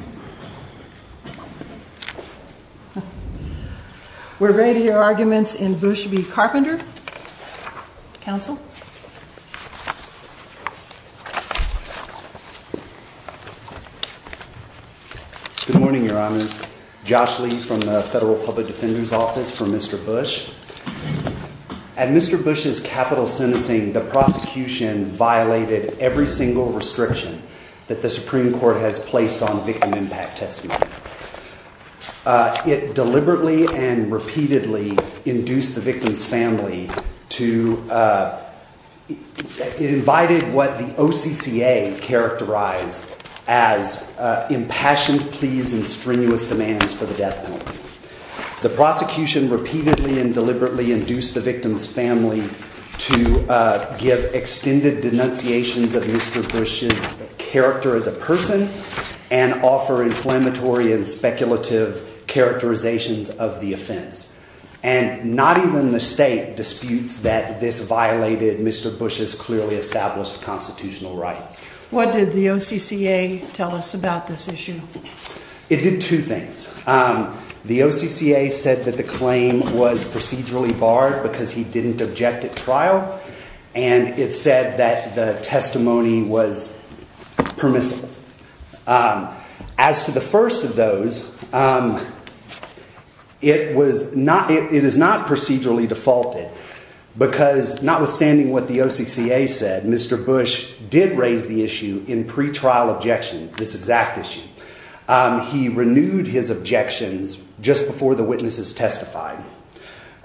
Good morning, Your Honors. Josh Lee from the Federal Public Defender's Office for Mr. Bush. At Mr. Bush's capital sentencing, the prosecution violated every single restriction that the Supreme Court has placed on victim impact testimony. It deliberately and repeatedly induced the victim's family to, it invited what the OCCA characterized as impassioned pleas and strenuous demands for the death penalty. The prosecution repeatedly and deliberately induced the victim's family to give extended denunciations of Mr. Bush's character as a person and offer inflammatory and speculative characterizations of the offense. And not even the state disputes that this violated Mr. Bush's clearly established constitutional rights. What did the OCCA tell us about this issue? It did two things. Um, the OCCA said that the claim was procedurally barred because he didn't object at trial. And it said that the testimony was permissible. Um, as to the first of those, um, it was not, it is not procedurally defaulted because notwithstanding what the OCCA said, Mr. Bush did raise the issue in pre-trial objections, this exact issue. Um, he renewed his objections just before the witnesses testified.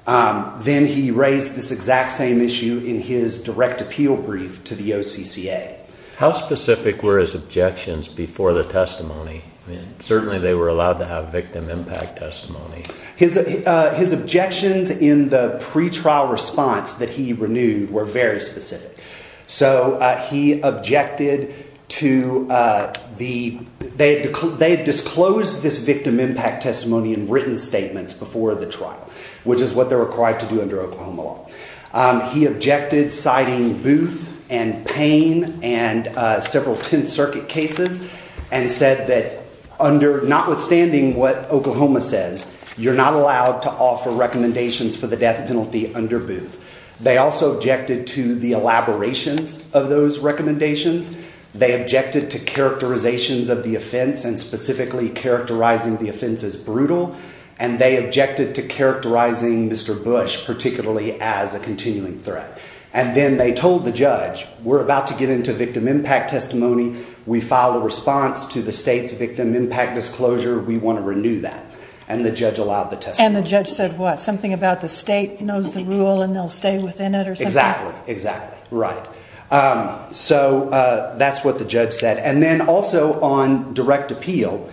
Um, then he raised this exact same issue in his direct appeal brief to the OCCA. How specific were his objections before the testimony? I mean, certainly they were allowed to have victim impact testimony. His, uh, his objections in the pre-trial response that he renewed were very specific. So, uh, he objected to, uh, the, they, they disclosed this victim impact testimony in written statements before the trial, which is what they're required to do under Oklahoma law. Um, he objected citing Booth and Payne and, uh, several 10th circuit cases and said that under, notwithstanding what Oklahoma says, you're not allowed to offer recommendations for the death penalty under Booth. They also objected to the elaborations of those recommendations. They objected to brutal and they objected to characterizing Mr. Bush, particularly as a continuing threat. And then they told the judge, we're about to get into victim impact testimony. We filed a response to the state's victim impact disclosure. We want to renew that. And the judge allowed the test. And the judge said what? Something about the state knows the rule and they'll stay within it or something. Exactly, exactly. Right. Um, so, uh, that's what the judge said. And then also on direct appeal,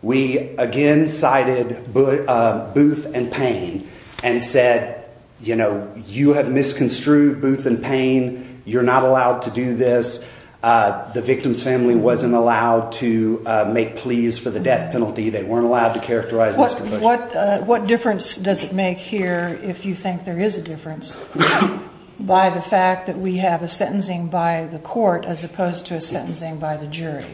we again cited Booth and Payne and said, you know, you have misconstrued Booth and Payne. You're not allowed to do this. Uh, the victim's family wasn't allowed to make pleas for the death penalty. They weren't allowed to characterize what, what, uh, what difference does it make here? If you think there is a difference by the fact that we have a sentencing by the court as opposed to a sentencing by the jury.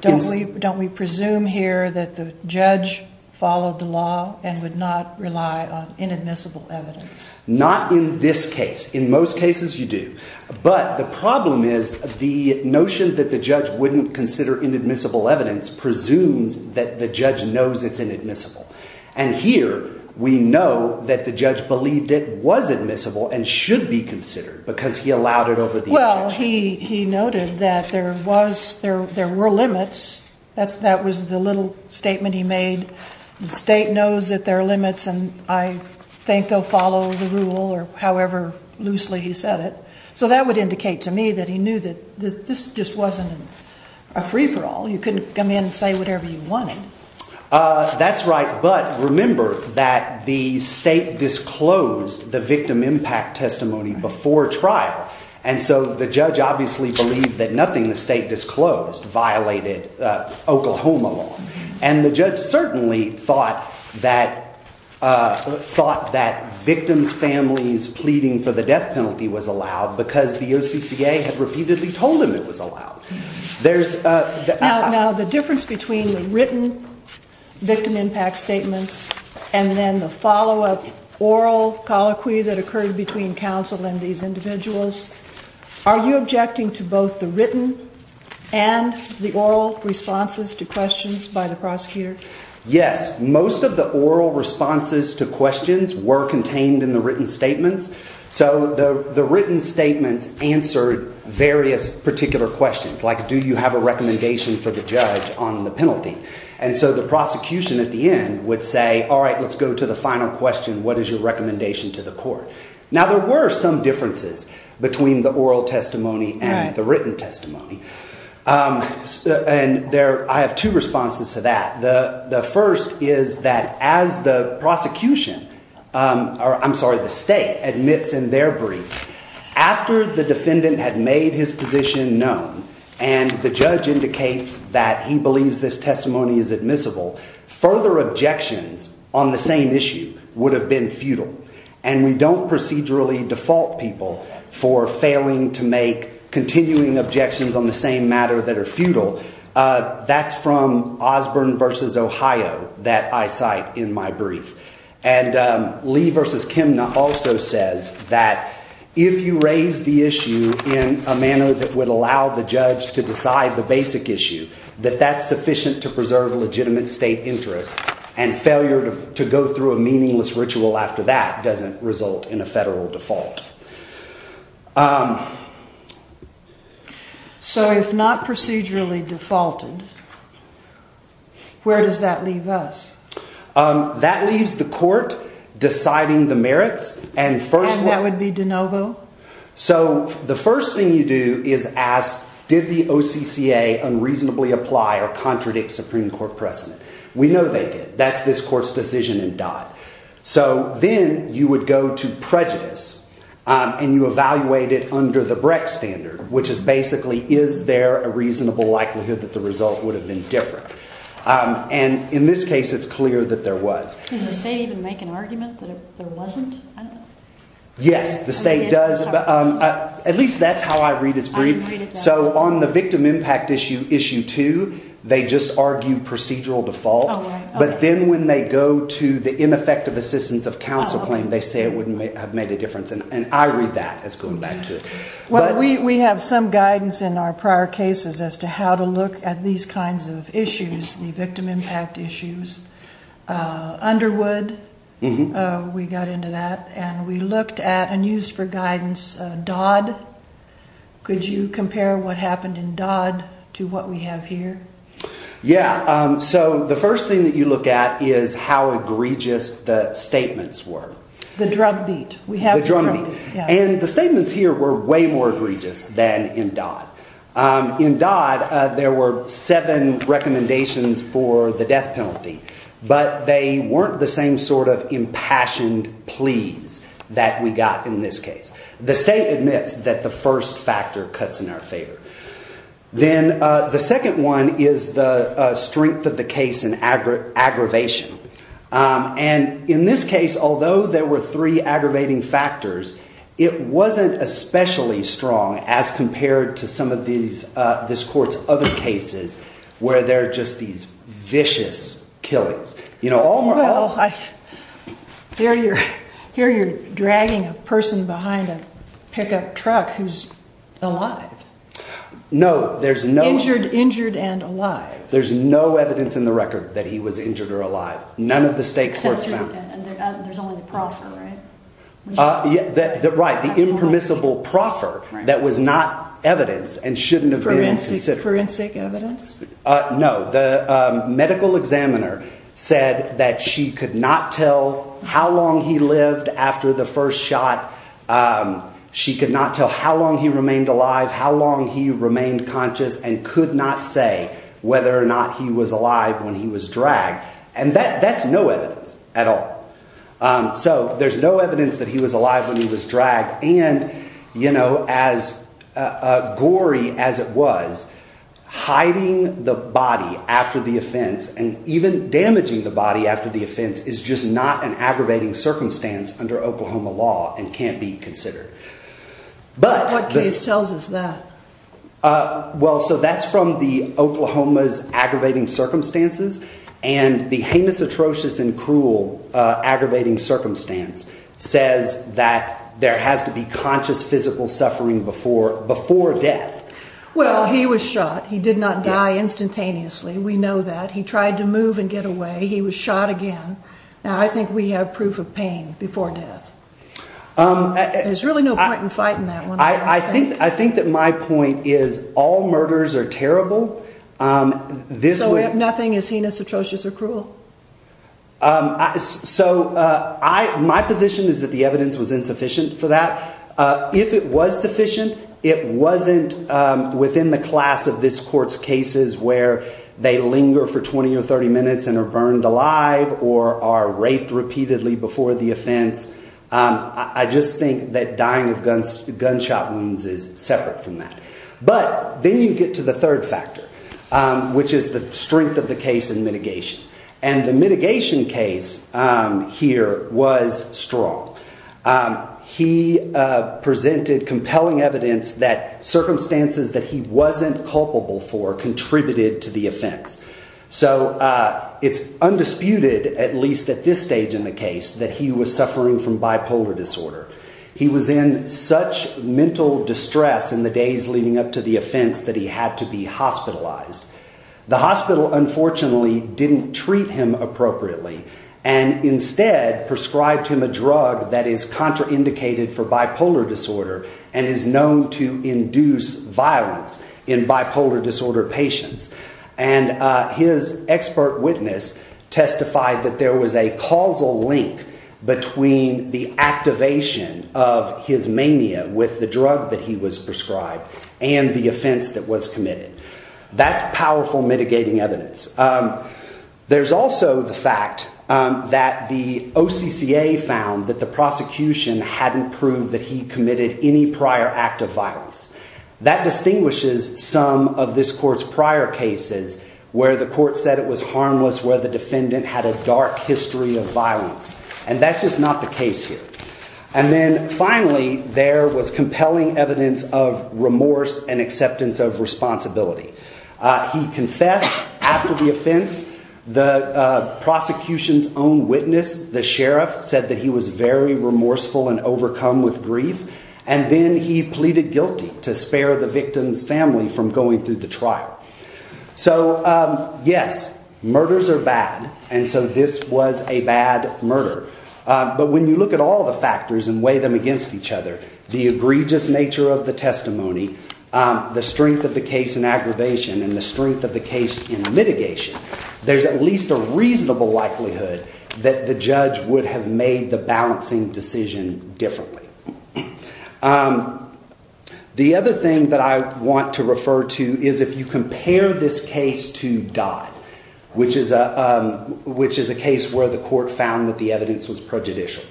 Don't we, don't we presume here that the judge followed the law and would not rely on inadmissible evidence? Not in this case. In most cases you do. But the problem is the notion that the judge wouldn't consider inadmissible evidence presumes that the judge knows it's inadmissible. And here we know that the judge believed it was admissible and should be considered because he allowed it over. Well, he, he noted that there was, there, there were limits. That's, that was the little statement he made. The state knows that there are limits and I think they'll follow the rule or however loosely he said it. So that would state disclosed the victim impact testimony before trial. And so the judge obviously believed that nothing the state disclosed violated, uh, Oklahoma law. And the judge certainly thought that, uh, thought that victims families pleading for the death penalty was allowed because the OCCA had repeatedly told him it was allowed. There's, uh, Now the difference between the written victim impact statements and then the follow up oral colloquy that occurred between counsel and these individuals, are you objecting to both the written and the oral responses to questions by the prosecutor? Yes. Most of the oral responses to questions were contained in the written statements. So the, the written statements answered various particular questions like, do you have a recommendation for the judge on the penalty? And so the prosecution at the end would say, all right, let's go to the final question. What is your recommendation to the court? Now there were some differences between the oral testimony and the written testimony. Um, and there, I have two responses to that. The first is that as the prosecution, um, or I'm sorry, the state admits in their brief after the defendant had made his position known and the judge indicates that he believes this testimony is admissible. Further objections on the same issue would have been futile and we don't procedurally default people for failing to make continuing objections on the same matter that are futile. Uh, that's from Osborne versus Ohio that I cite in my brief. And, um, Lee versus Kim also says that if you raise the issue in a manner that would allow the judge to decide the basic issue that that's sufficient to preserve legitimate state interest and failure to go through a meaningless ritual after that doesn't result in a federal default. Um, so if not procedurally defaulted, where does that leave us? Um, that leaves the court deciding the merits and first that would be DeNovo. So the first thing you do is ask, did the OCC a unreasonably apply or contradict Supreme Court precedent? We know they did. That's this court's decision and dot. So then you would go to prejudice, um, and you evaluate it under the Breck standard, which is basically, is there a reasonable likelihood that the result would have been different? Um, and in this case it's clear that there was. Does the state even make an argument that there wasn't? Yes, the state does. Um, at least that's how I read his brief. So on the victim impact issue, issue two, they just argue procedural default. But then when they go to the ineffective assistance of counsel claim, they say it wouldn't have made a difference. And I read that as going back to what we have some guidance in our prior cases as to how to look at these kinds of issues. The victim impact issues, uh, Underwood, uh, we got into that and we looked at a news for guidance. Uh, Dodd, could you compare what happened in Dodd to what we have here? Yeah. Um, so the first thing that you look at is how egregious the statements were. The drumbeat. We have the drumbeat. And the statements here were way more egregious than in Dodd. Um, in Dodd, uh, there were seven recommendations for the death penalty, but they weren't the same sort of impassioned pleas that we got in this case. The state admits that the first factor cuts in our favor. Then, uh, the second one is the, uh, strength of the case in aggregate aggravation. Um, and in this case, although there were three aggravating factors, it wasn't especially strong as compared to some of these, uh, this court's other cases where they're just these vicious killings, you know, all. Here you're here. You're dragging a person behind a pickup truck. Who's alive? No, there's no injured, injured and alive. There's no evidence in the record that he was injured or alive. None of the state courts found. Uh, yeah, that, that right. The impermissible proffer that was not evidence and shouldn't have been forensic evidence. Uh, no. The medical examiner said that she could not tell how long he lived after the first shot. Um, she could not tell how long he remained alive, how long he remained conscious and could not say whether or not he was alive when he was dragged. And that that's no evidence at all. Um, so there's no evidence that he was alive when he was dragged and you know, as a gory as it was hiding the body after the offense and even damaging the body after the offense is just not an aggravating circumstance under Oklahoma law and can't be considered. But what case tells us that, uh, well, so that's from the Oklahoma's aggravating circumstances and the heinous, atrocious and cruel, uh, aggravating circumstance says that there has to be conscious physical suffering before, before death. Well, he was shot. He did not die instantaneously. We know that he tried to move and get away. He was shot again. Now I think we have proof of pain before death. Um, there's really no point in fighting that one. I think, I think that my point is all murders are terrible. Um, this way, nothing is heinous, atrocious or cruel. Um, so, uh, I, my position is that the evidence was insufficient for that. Uh, if it was sufficient, it wasn't, um, within the class of this court's cases where they linger for 20 or 30 minutes and are burned alive or are raped repeatedly before the offense. Um, I just think that dying of guns, gunshot wounds is separate from that. But then you get to the third factor, um, which is the strength of the case and mitigation and the mitigation case, um, here was strong. Um, he, uh, presented compelling evidence that circumstances that he wasn't culpable for contributed to the offense. So, uh, it's undisputed, at least at this stage in the case that he was suffering from bipolar disorder. He was in such mental distress in the days leading up to the offense that he had to be hospitalized. The hospital, unfortunately, didn't treat him appropriately and instead prescribed him a drug that is contraindicated for bipolar disorder and is known to induce violence in bipolar disorder patients. And, uh, his expert witness testified that there was a causal link between the activation of his mania with the drug that he was prescribed and the offense that was committed. That's powerful mitigating evidence. Um, there's also the fact, um, that the OCCA found that the prosecution hadn't proved that he committed any prior act of violence that distinguishes some of this court's prior cases where the court said it was harmless, where the defendant had a dark history of violence. And that's just not the case here. And then finally, there was compelling evidence of remorse and acceptance of responsibility. He confessed after the offense. The prosecution's own witness, the sheriff, said that he was very remorseful and overcome with grief. And then he pleaded guilty to spare the victim's family from going through the trial. So, um, yes, murders are bad. And so this was a bad murder. But when you look at all the factors and weigh them against each other, the egregious nature of the testimony, the strength of the case in aggravation, and the strength of the case in mitigation, there's at least a reasonable likelihood that the judge would have made the balancing decision differently. Um, the other thing that I want to refer to is if you compare this case to Dodd, which is a, um, which is a case where the court found that the evidence was prejudicial.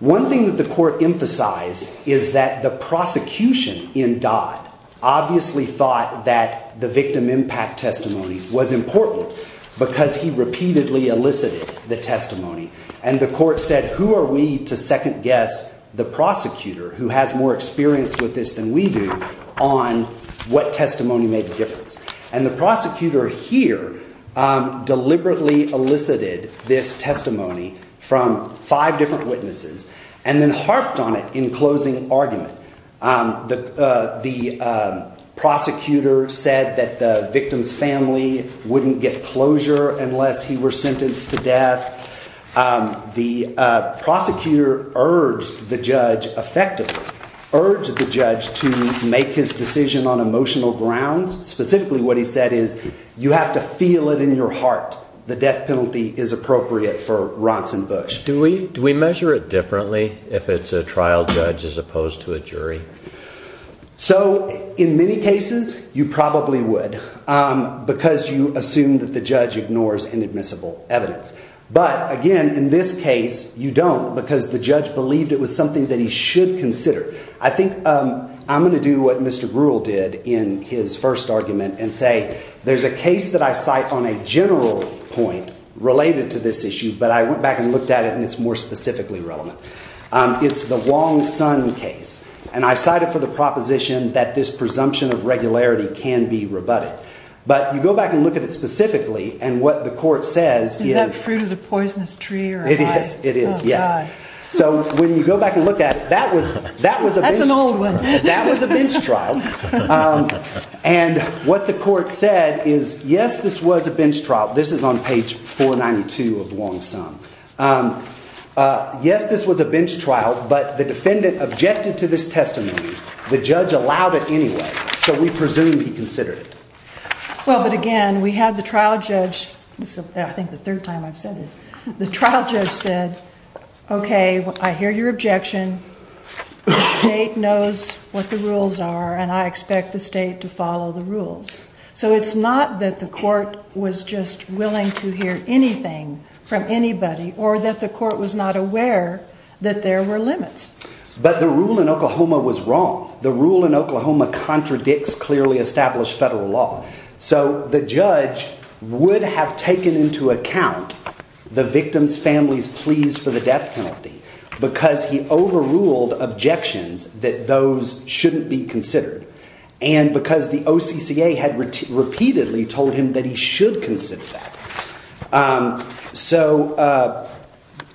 One thing that the court emphasized is that the prosecution in Dodd obviously thought that the victim impact testimony was important because he repeatedly elicited the testimony. And the court said, who are we to second guess the prosecutor who has more experience with this than we do on what testimony made the difference? And the prosecutor here, um, deliberately elicited this testimony from five different witnesses and then harped on it in closing argument. Um, the, uh, the, um, prosecutor said that the victim's family wouldn't get closure unless he were sentenced to death. Um, the, uh, prosecutor urged the judge effectively, urged the judge to make his decision on emotional grounds. Specifically what he said is you have to feel it in your heart. The death penalty is appropriate for Ronson Bush. Do we, do we measure it differently if it's a trial judge as opposed to a jury? So in many cases you probably would, um, because you assume that the judge ignores inadmissible evidence. But again, in this case you don't because the judge believed it was something that he should consider. I think, um, I'm going to do what Mr. Gruel did in his first argument and say there's a case that I cite on a general point related to this issue. But I went back and looked at it and it's more specifically relevant. Um, it's the Wong Son case and I cited for the proposition that this presumption of regularity can be rebutted. But you go back and look at it specifically and what the court says is that fruit of the poisonous tree or it is. Yes. So when you go back and look at it, that was, that was, that was a bench trial. Um, and what the court said is, yes, this was a bench trial. This is on page 492 of Wong Son. Um, uh, yes, this was a bench trial, but the defendant objected to this testimony. The judge allowed it anyway, so we presume he considered it. Well, but again, we had the trial judge, I think the third time I've said this, the trial judge said, okay, I hear your objection. The state knows what the rules are and I expect the state to follow the rules. So it's not that the court was just willing to hear anything from anybody or that the court was not aware that there were limits. But the rule in Oklahoma was wrong. The rule in Oklahoma contradicts clearly established federal law. So the judge would have taken into account the victim's family's pleas for the death penalty because he overruled objections that those shouldn't be considered. And because the OCCA had repeatedly told him that he should consider that. Um, so, uh,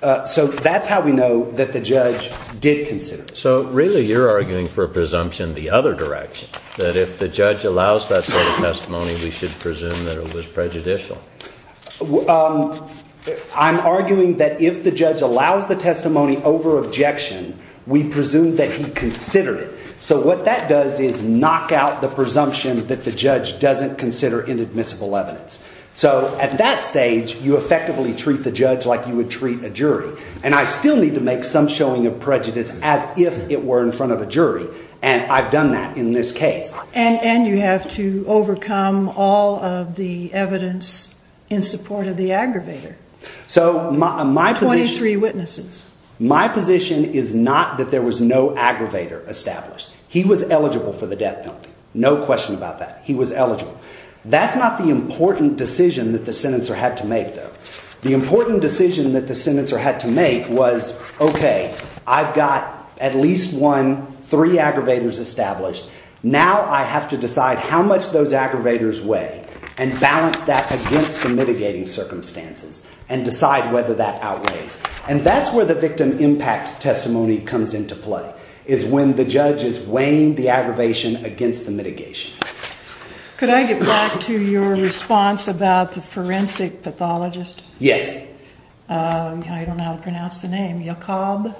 uh, so that's how we know that the judge did consider. So really you're arguing for a presumption the other direction that if the judge allows that testimony, we should presume that it was prejudicial. Um, I'm arguing that if the judge allows the testimony over objection, we presume that he considered it. So what that does is knock out the presumption that the judge doesn't consider inadmissible evidence. So at that stage, you effectively treat the judge like you would treat a jury. And I still need to make some showing of prejudice as if it were in front of a jury. And I've done that in this case. And, and you have to overcome all of the evidence in support of the aggravator. So my, my 23 witnesses, my position is not that there was no aggravator established. He was eligible for the death penalty. No question about that. He was eligible. That's not the important decision that the senator had to make, though. The important decision that the senator had to make was, okay, I've got at least one, three aggravators established. Now I have to decide how much those aggravators weigh and balance that against the mitigating circumstances and decide whether that outweighs. And that's where the victim impact testimony comes into play, is when the judge is weighing the aggravation against the mitigation. Could I get back to your response about the forensic pathologist? Yes. I don't know how to pronounce the name. Yacob?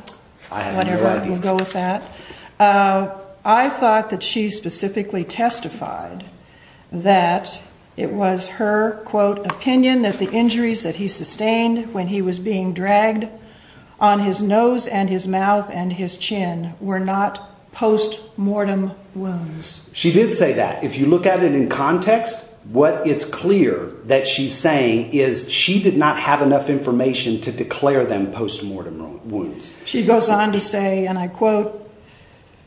I have no idea. We'll go with that. I thought that she specifically testified that it was her, quote, opinion that the injuries that he sustained when he was being dragged on his nose and his mouth and his chin were not post-mortem wounds. She did say that. If you look at it in context, what it's clear that she's saying is she did not have enough information to declare them post-mortem wounds. She goes on to say, and I quote,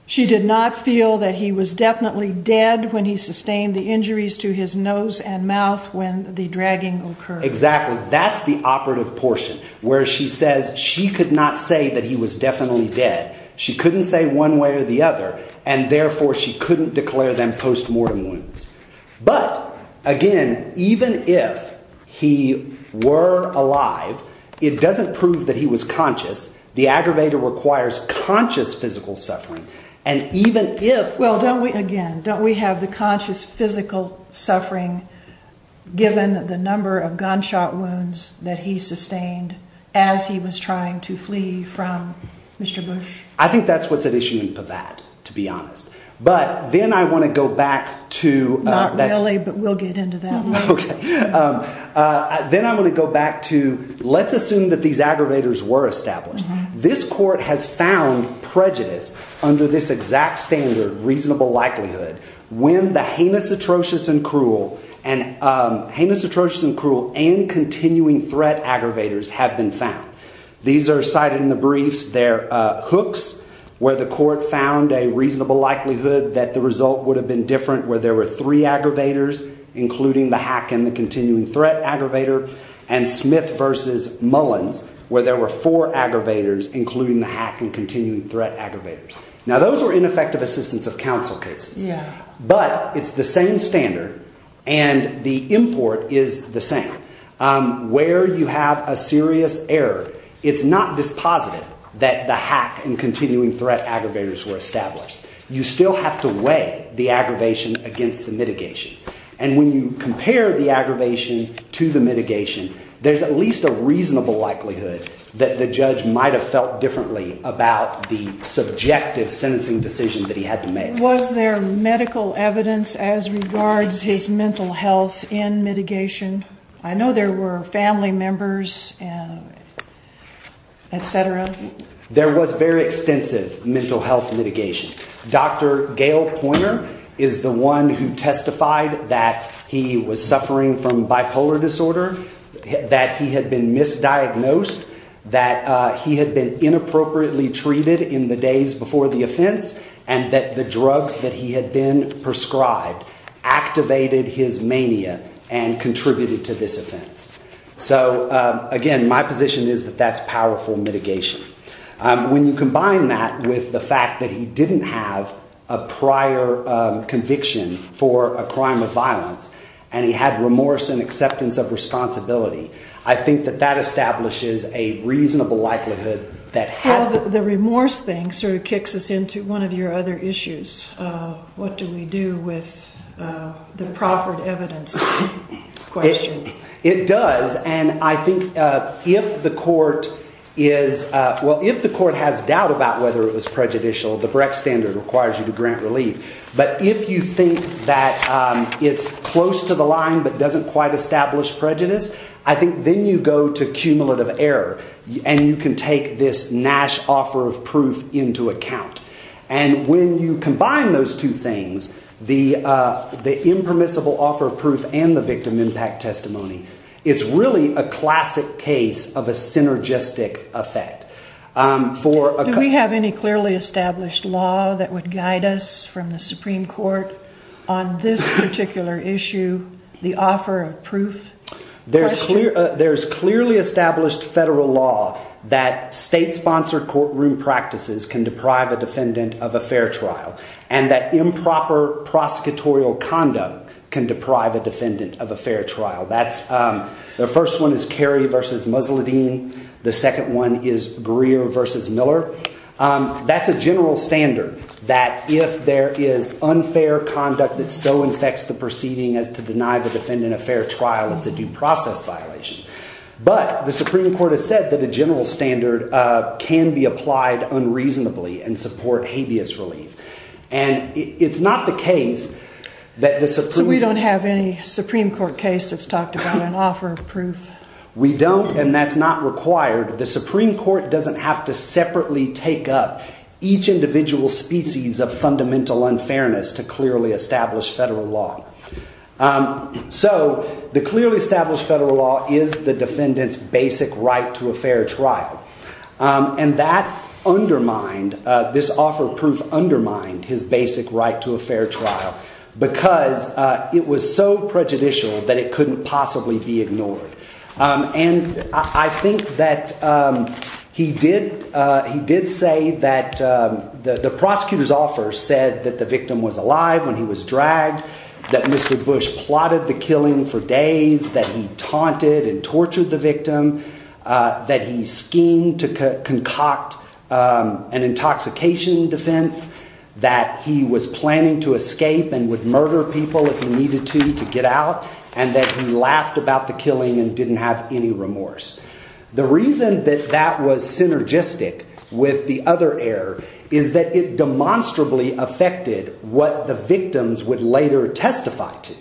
she did not feel that he was definitely dead when he sustained the injuries to his nose and mouth when the dragging occurred. Exactly. That's the operative portion where she says she could not say that he was definitely dead. She couldn't say one way or the other, and therefore she couldn't declare them post-mortem wounds. But, again, even if he were alive, it doesn't prove that he was conscious. The aggravator requires conscious physical suffering. Well, don't we, again, don't we have the conscious physical suffering given the number of gunshot wounds that he sustained as he was trying to flee from Mr. Bush? I think that's what's at issue in Pavatt, to be honest. But then I want to go back to... Not really, but we'll get into that. Okay. Then I'm going to go back to, let's assume that these aggravators were established. This court has found prejudice under this exact standard, reasonable likelihood, when the heinous, atrocious, and cruel and continuing threat aggravators have been found. These are cited in the briefs. There are hooks where the court found a reasonable likelihood that the result would have been different where there were three aggravators, including the hack and the continuing threat aggravator. And Smith v. Mullins, where there were four aggravators, including the hack and continuing threat aggravators. Now, those were ineffective assistance of counsel cases. But it's the same standard, and the import is the same. Where you have a serious error, it's not dispositive that the hack and continuing threat aggravators were established. You still have to weigh the aggravation against the mitigation. And when you compare the aggravation to the mitigation, there's at least a reasonable likelihood that the judge might have felt differently about the subjective sentencing decision that he had to make. Was there medical evidence as regards his mental health in mitigation? I know there were family members, etc. There was very extensive mental health mitigation. Dr. Gail Pointer is the one who testified that he was suffering from bipolar disorder, that he had been misdiagnosed, that he had been inappropriately treated in the days before the offense, and that the drugs that he had been prescribed activated his mania and contributed to this offense. So, again, my position is that that's powerful mitigation. When you combine that with the fact that he didn't have a prior conviction for a crime of violence, and he had remorse and acceptance of responsibility, I think that that establishes a reasonable likelihood that... Well, the remorse thing sort of kicks us into one of your other issues. What do we do with the proffered evidence question? It does, and I think if the court is... Well, if the court has doubt about whether it was prejudicial, the Brecht Standard requires you to grant relief. But if you think that it's close to the line but doesn't quite establish prejudice, I think then you go to cumulative error, and you can take this Nash offer of proof into account. And when you combine those two things, the impermissible offer of proof and the victim impact testimony, it's really a classic case of a synergistic effect. Do we have any clearly established law that would guide us from the Supreme Court on this particular issue, the offer of proof question? There's clearly established federal law that state-sponsored courtroom practices can deprive a defendant of a fair trial, and that improper prosecutorial conduct can deprive a defendant of a fair trial. The first one is Carey v. Musladeen. The second one is Greer v. Miller. That's a general standard, that if there is unfair conduct that so infects the proceeding as to deny the defendant a fair trial, it's a due process violation. But the Supreme Court has said that a general standard can be applied unreasonably and support habeas relief. And it's not the case that the Supreme Court... So we don't have any Supreme Court case that's talked about an offer of proof? We don't, and that's not required. The Supreme Court doesn't have to separately take up each individual species of fundamental unfairness to clearly establish federal law. So the clearly established federal law is the defendant's basic right to a fair trial. And that undermined, this offer of proof undermined his basic right to a fair trial, because it was so prejudicial that it couldn't possibly be ignored. And I think that he did say that the prosecutor's offer said that the victim was alive when he was dragged, that Mr. Bush plotted the killing for days, that he taunted and tortured the victim, that he schemed to concoct an intoxication defense, that he was planning to escape and would murder people if he needed to to get out, and that he laughed about the killing and didn't have any remorse. The reason that that was synergistic with the other error is that it demonstrably affected what the victims would later testify to.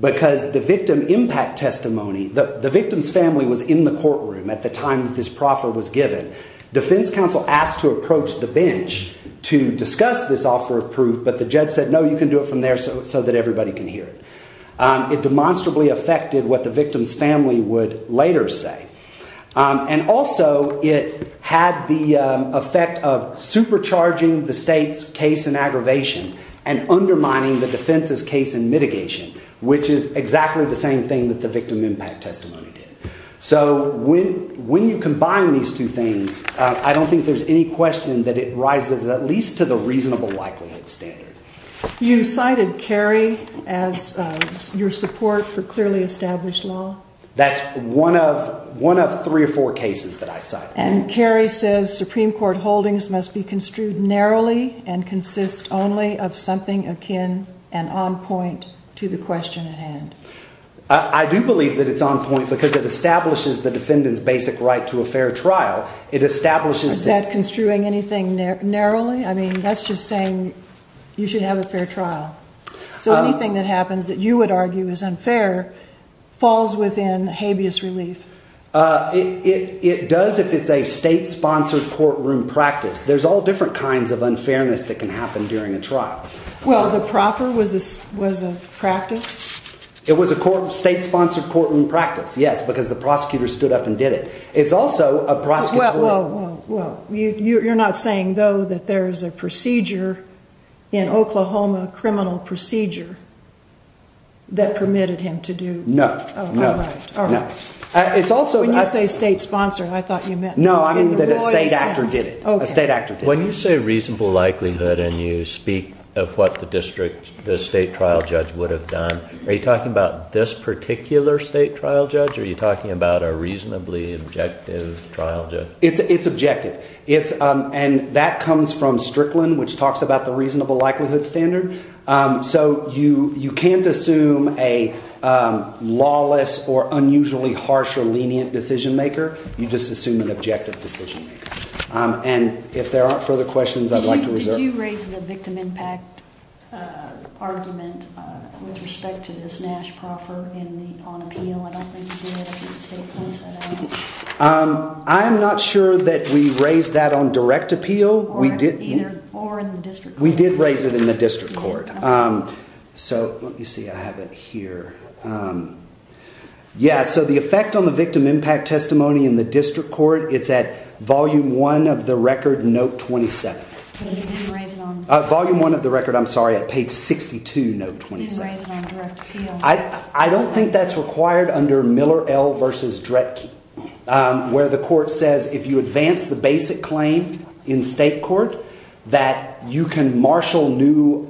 Because the victim impact testimony, the victim's family was in the courtroom at the time that this proffer was given. Defense counsel asked to approach the bench to discuss this offer of proof, but the judge said, no, you can do it from there so that everybody can hear it. It demonstrably affected what the victim's family would later say. And also it had the effect of supercharging the state's case in aggravation and undermining the defense's case in mitigation, which is exactly the same thing that the victim impact testimony did. So when you combine these two things, I don't think there's any question that it rises at least to the reasonable likelihood standard. You cited Kerry as your support for clearly established law. That's one of three or four cases that I cited. And Kerry says Supreme Court holdings must be construed narrowly and consist only of something akin and on point to the question at hand. I do believe that it's on point because it establishes the defendant's basic right to a fair trial. Is that construing anything narrowly? I mean, that's just saying you should have a fair trial. So anything that happens that you would argue is unfair falls within habeas relief. It does if it's a state-sponsored courtroom practice. There's all different kinds of unfairness that can happen during a trial. Well, the proffer was a practice? It was a state-sponsored courtroom practice, yes, because the prosecutor stood up and did it. It's also a prosecutor. Well, you're not saying, though, that there's a procedure in Oklahoma, a criminal procedure that permitted him to do? No. When you say state-sponsored, I thought you meant... No, I mean that a state actor did it. When you say reasonable likelihood and you speak of what the state trial judge would have done, are you talking about this particular state trial judge or are you talking about a reasonably objective trial judge? It's objective. And that comes from Strickland, which talks about the reasonable likelihood standard. So you can't assume a lawless or unusually harsh or lenient decision-maker. You just assume an objective decision-maker. And if there aren't further questions, I'd like to reserve... Did you raise the victim impact argument with respect to this Nash proffer on appeal? I'm not sure that we raised that on direct appeal. Or in the district court. We did raise it in the district court. So let me see, I have it here. Yeah, so the effect on the victim impact testimony in the district court, it's at volume one of the record, note 27. But you didn't raise it on... Volume one of the record, I'm sorry, at page 62, note 27. You didn't raise it on direct appeal. I don't think that's required under Miller L versus Dredke, where the court says if you advance the basic claim in state court, that you can marshal new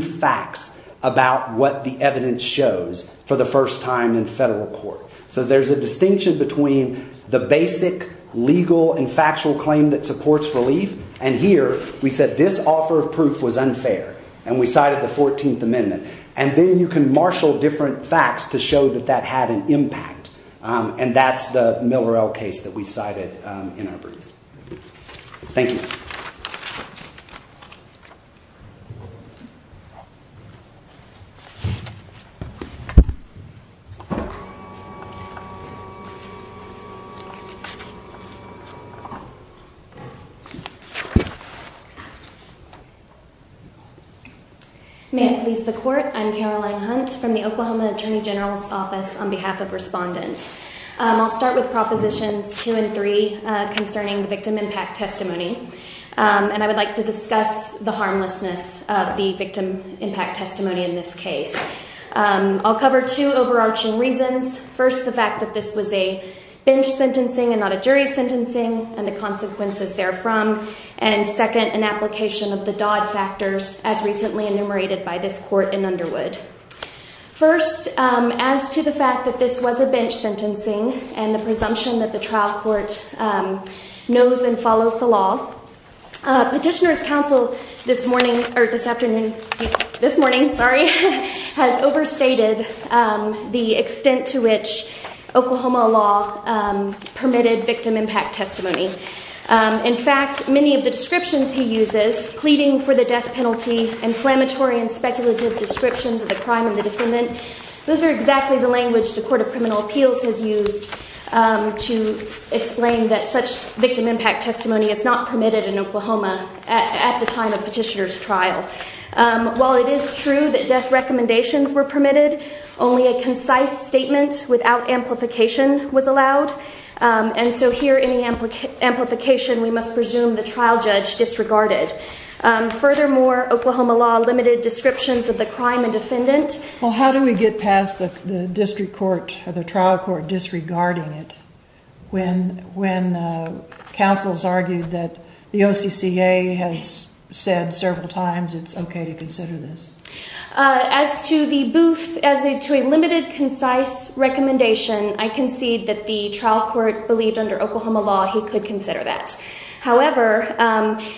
facts about what the evidence shows for the first time in federal court. So there's a distinction between the basic legal and factual claim that supports relief. And here, we said this offer of proof was unfair. And we cited the 14th Amendment. And then you can marshal different facts to show that that had an impact. And that's the Miller L case that we cited in our briefs. Thank you. Thank you. May I please the court? I'm Caroline Hunt from the Oklahoma Attorney General's Office on behalf of Respondent. I'll start with Propositions 2 and 3 concerning the victim impact testimony. And I would like to discuss the harmlessness of the victim impact testimony in this case. I'll cover two overarching reasons. First, the fact that this was a bench sentencing and not a jury sentencing and the consequences therefrom. And second, an application of the Dodd factors, as recently enumerated by this court in Underwood. First, as to the fact that this was a bench sentencing and the presumption that the trial court knows and follows the law. Petitioner's counsel this morning or this afternoon, this morning, sorry, has overstated the extent to which Oklahoma law permitted victim impact testimony. In fact, many of the descriptions he uses, pleading for the death penalty, inflammatory and speculative descriptions of the crime and the defendant, those are exactly the language the Court of Criminal Appeals has used to explain that such victim impact testimony is not permitted in Oklahoma at the time of petitioner's trial. While it is true that death recommendations were permitted, only a concise statement without amplification was allowed. And so here in the amplification, we must presume the trial judge disregarded. Furthermore, Oklahoma law limited descriptions of the crime and defendant. Well, how do we get past the district court or the trial court disregarding it when counsels argued that the OCCA has said several times it's okay to consider this? As to the booth, as to a limited concise recommendation, I concede that the trial court believed under Oklahoma law he could consider that. However,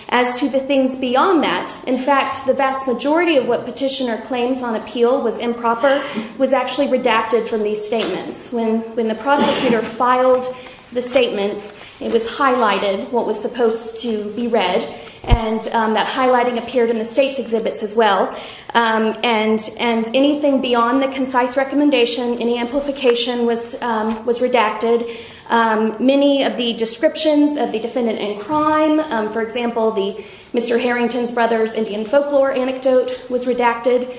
as to the things beyond that, in fact, the vast majority of what petitioner claims on appeal was improper, was actually redacted from these statements. When the prosecutor filed the statements, it was highlighted what was supposed to be read, and that highlighting appeared in the state's exhibits as well. And anything beyond the concise recommendation, any amplification was redacted. Many of the descriptions of the defendant in crime, for example, Mr. Harrington's brother's Indian folklore anecdote was redacted.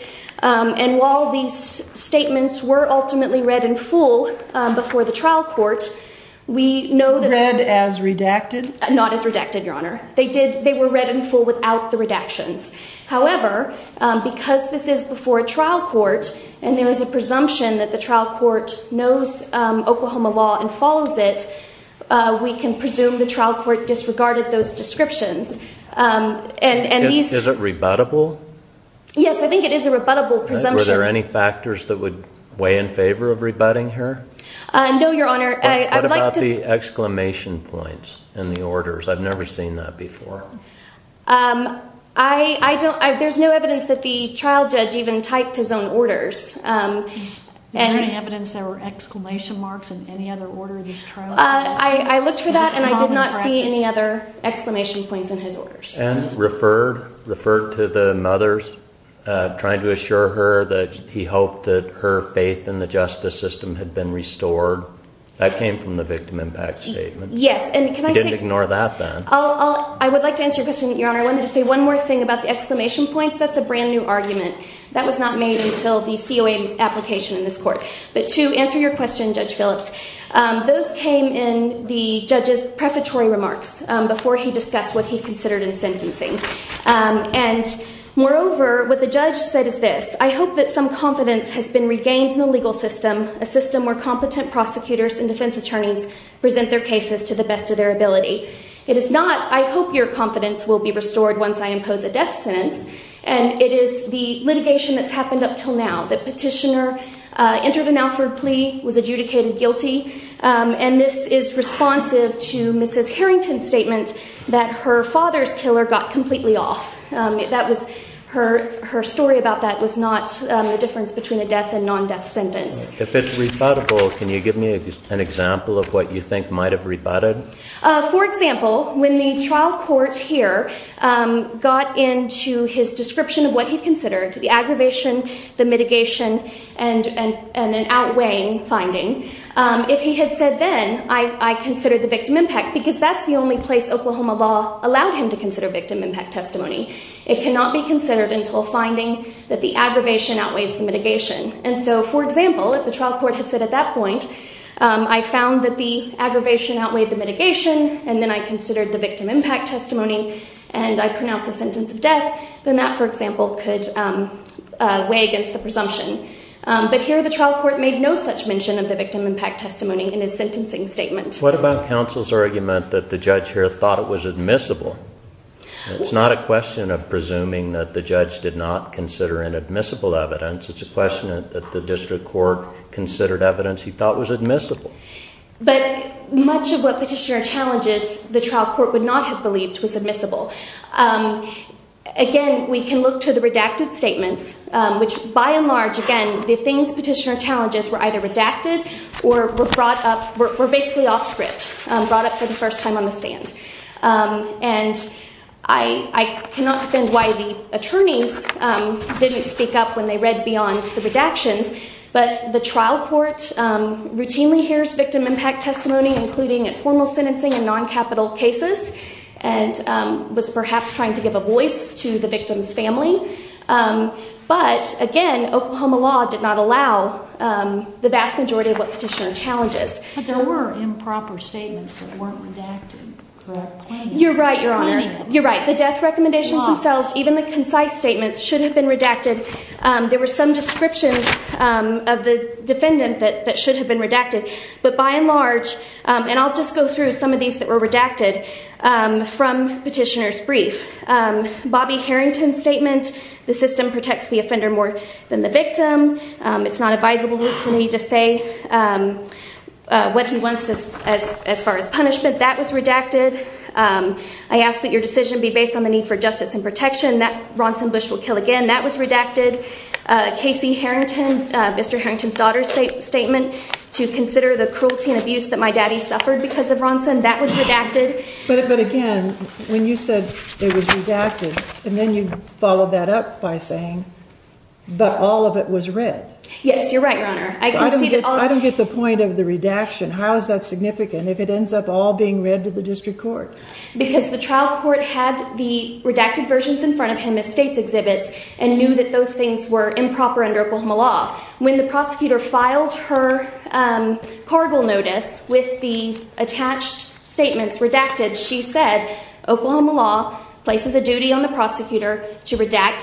And while these statements were ultimately read in full before the trial court, we know that... Read as redacted? Not as redacted, Your Honor. They were read in full without the redactions. However, because this is before a trial court, and there is a presumption that the trial court knows Oklahoma law and follows it, we can presume the trial court disregarded those descriptions. Is it rebuttable? Yes, I think it is a rebuttable presumption. Were there any factors that would weigh in favor of rebutting her? No, Your Honor. What about the exclamation points in the orders? I've never seen that before. I don't... There's no evidence that the trial judge even typed his own orders. Is there any evidence there were exclamation marks in any other order of this trial? I looked for that and I did not see any other exclamation points in his orders. And referred to the mother's, trying to assure her that he hoped that her faith in the justice system had been restored. That came from the victim impact statement. Yes, and can I say... He didn't ignore that then. Before I answer your question, Your Honor, I wanted to say one more thing about the exclamation points. That's a brand new argument. That was not made until the COA application in this court. But to answer your question, Judge Phillips, those came in the judge's prefatory remarks, before he discussed what he considered in sentencing. And moreover, what the judge said is this, I hope that some confidence has been regained in the legal system, a system where competent prosecutors and defense attorneys present their cases to the best of their ability. It is not, I hope your confidence will be restored once I impose a death sentence. And it is the litigation that's happened up until now. The petitioner entered an Alford plea, was adjudicated guilty. And this is responsive to Mrs. Harrington's statement that her father's killer got completely off. Her story about that was not the difference between a death and non-death sentence. If it's rebuttable, can you give me an example of what you think might have rebutted? For example, when the trial court here got into his description of what he considered, the aggravation, the mitigation, and an outweighing finding, if he had said then, I consider the victim impact, because that's the only place Oklahoma law allowed him to consider victim impact testimony. It cannot be considered until finding that the aggravation outweighs the mitigation. And so, for example, if the trial court had said at that point, I found that the aggravation outweighed the mitigation, and then I considered the victim impact testimony, and I pronounce a sentence of death, then that, for example, could weigh against the presumption. But here, the trial court made no such mention of the victim impact testimony in his sentencing statement. What about counsel's argument that the judge here thought it was admissible? It's not a question of presuming that the judge did not consider inadmissible evidence. It's a question that the district court considered evidence he thought was admissible. But much of what Petitioner challenges the trial court would not have believed was admissible. Again, we can look to the redacted statements, which by and large, again, the things Petitioner challenges were either redacted or were brought up, were basically off script, brought up for the first time on the stand. And I cannot defend why the attorneys didn't speak up when they read beyond the redactions, but the trial court routinely hears victim impact testimony, including in formal sentencing and non-capital cases, and was perhaps trying to give a voice to the victim's family. But, again, Oklahoma law did not allow the vast majority of what Petitioner challenges. But there were improper statements that weren't redacted, correct? You're right, Your Honor. You're right. The death recommendations themselves, even the concise statements, should have been redacted. There were some descriptions of the defendant that should have been redacted. But by and large, and I'll just go through some of these that were redacted from Petitioner's brief. Bobby Harrington's statement, the system protects the offender more than the victim. It's not advisable for me to say what he wants as far as punishment. That was redacted. I ask that your decision be based on the need for justice and protection. That Ronson Bush will kill again, that was redacted. Casey Harrington, Mr. Harrington's daughter's statement, to consider the cruelty and abuse that my daddy suffered because of Ronson, that was redacted. But, again, when you said it was redacted, and then you followed that up by saying, but all of it was read. Yes, you're right, Your Honor. I don't get the point of the redaction. How is that significant if it ends up all being read to the district court? Because the trial court had the redacted versions in front of him as state's exhibits and knew that those things were improper under Oklahoma law. When the prosecutor filed her cargo notice with the attached statements redacted, she said, Oklahoma law places a duty on the prosecutor to redact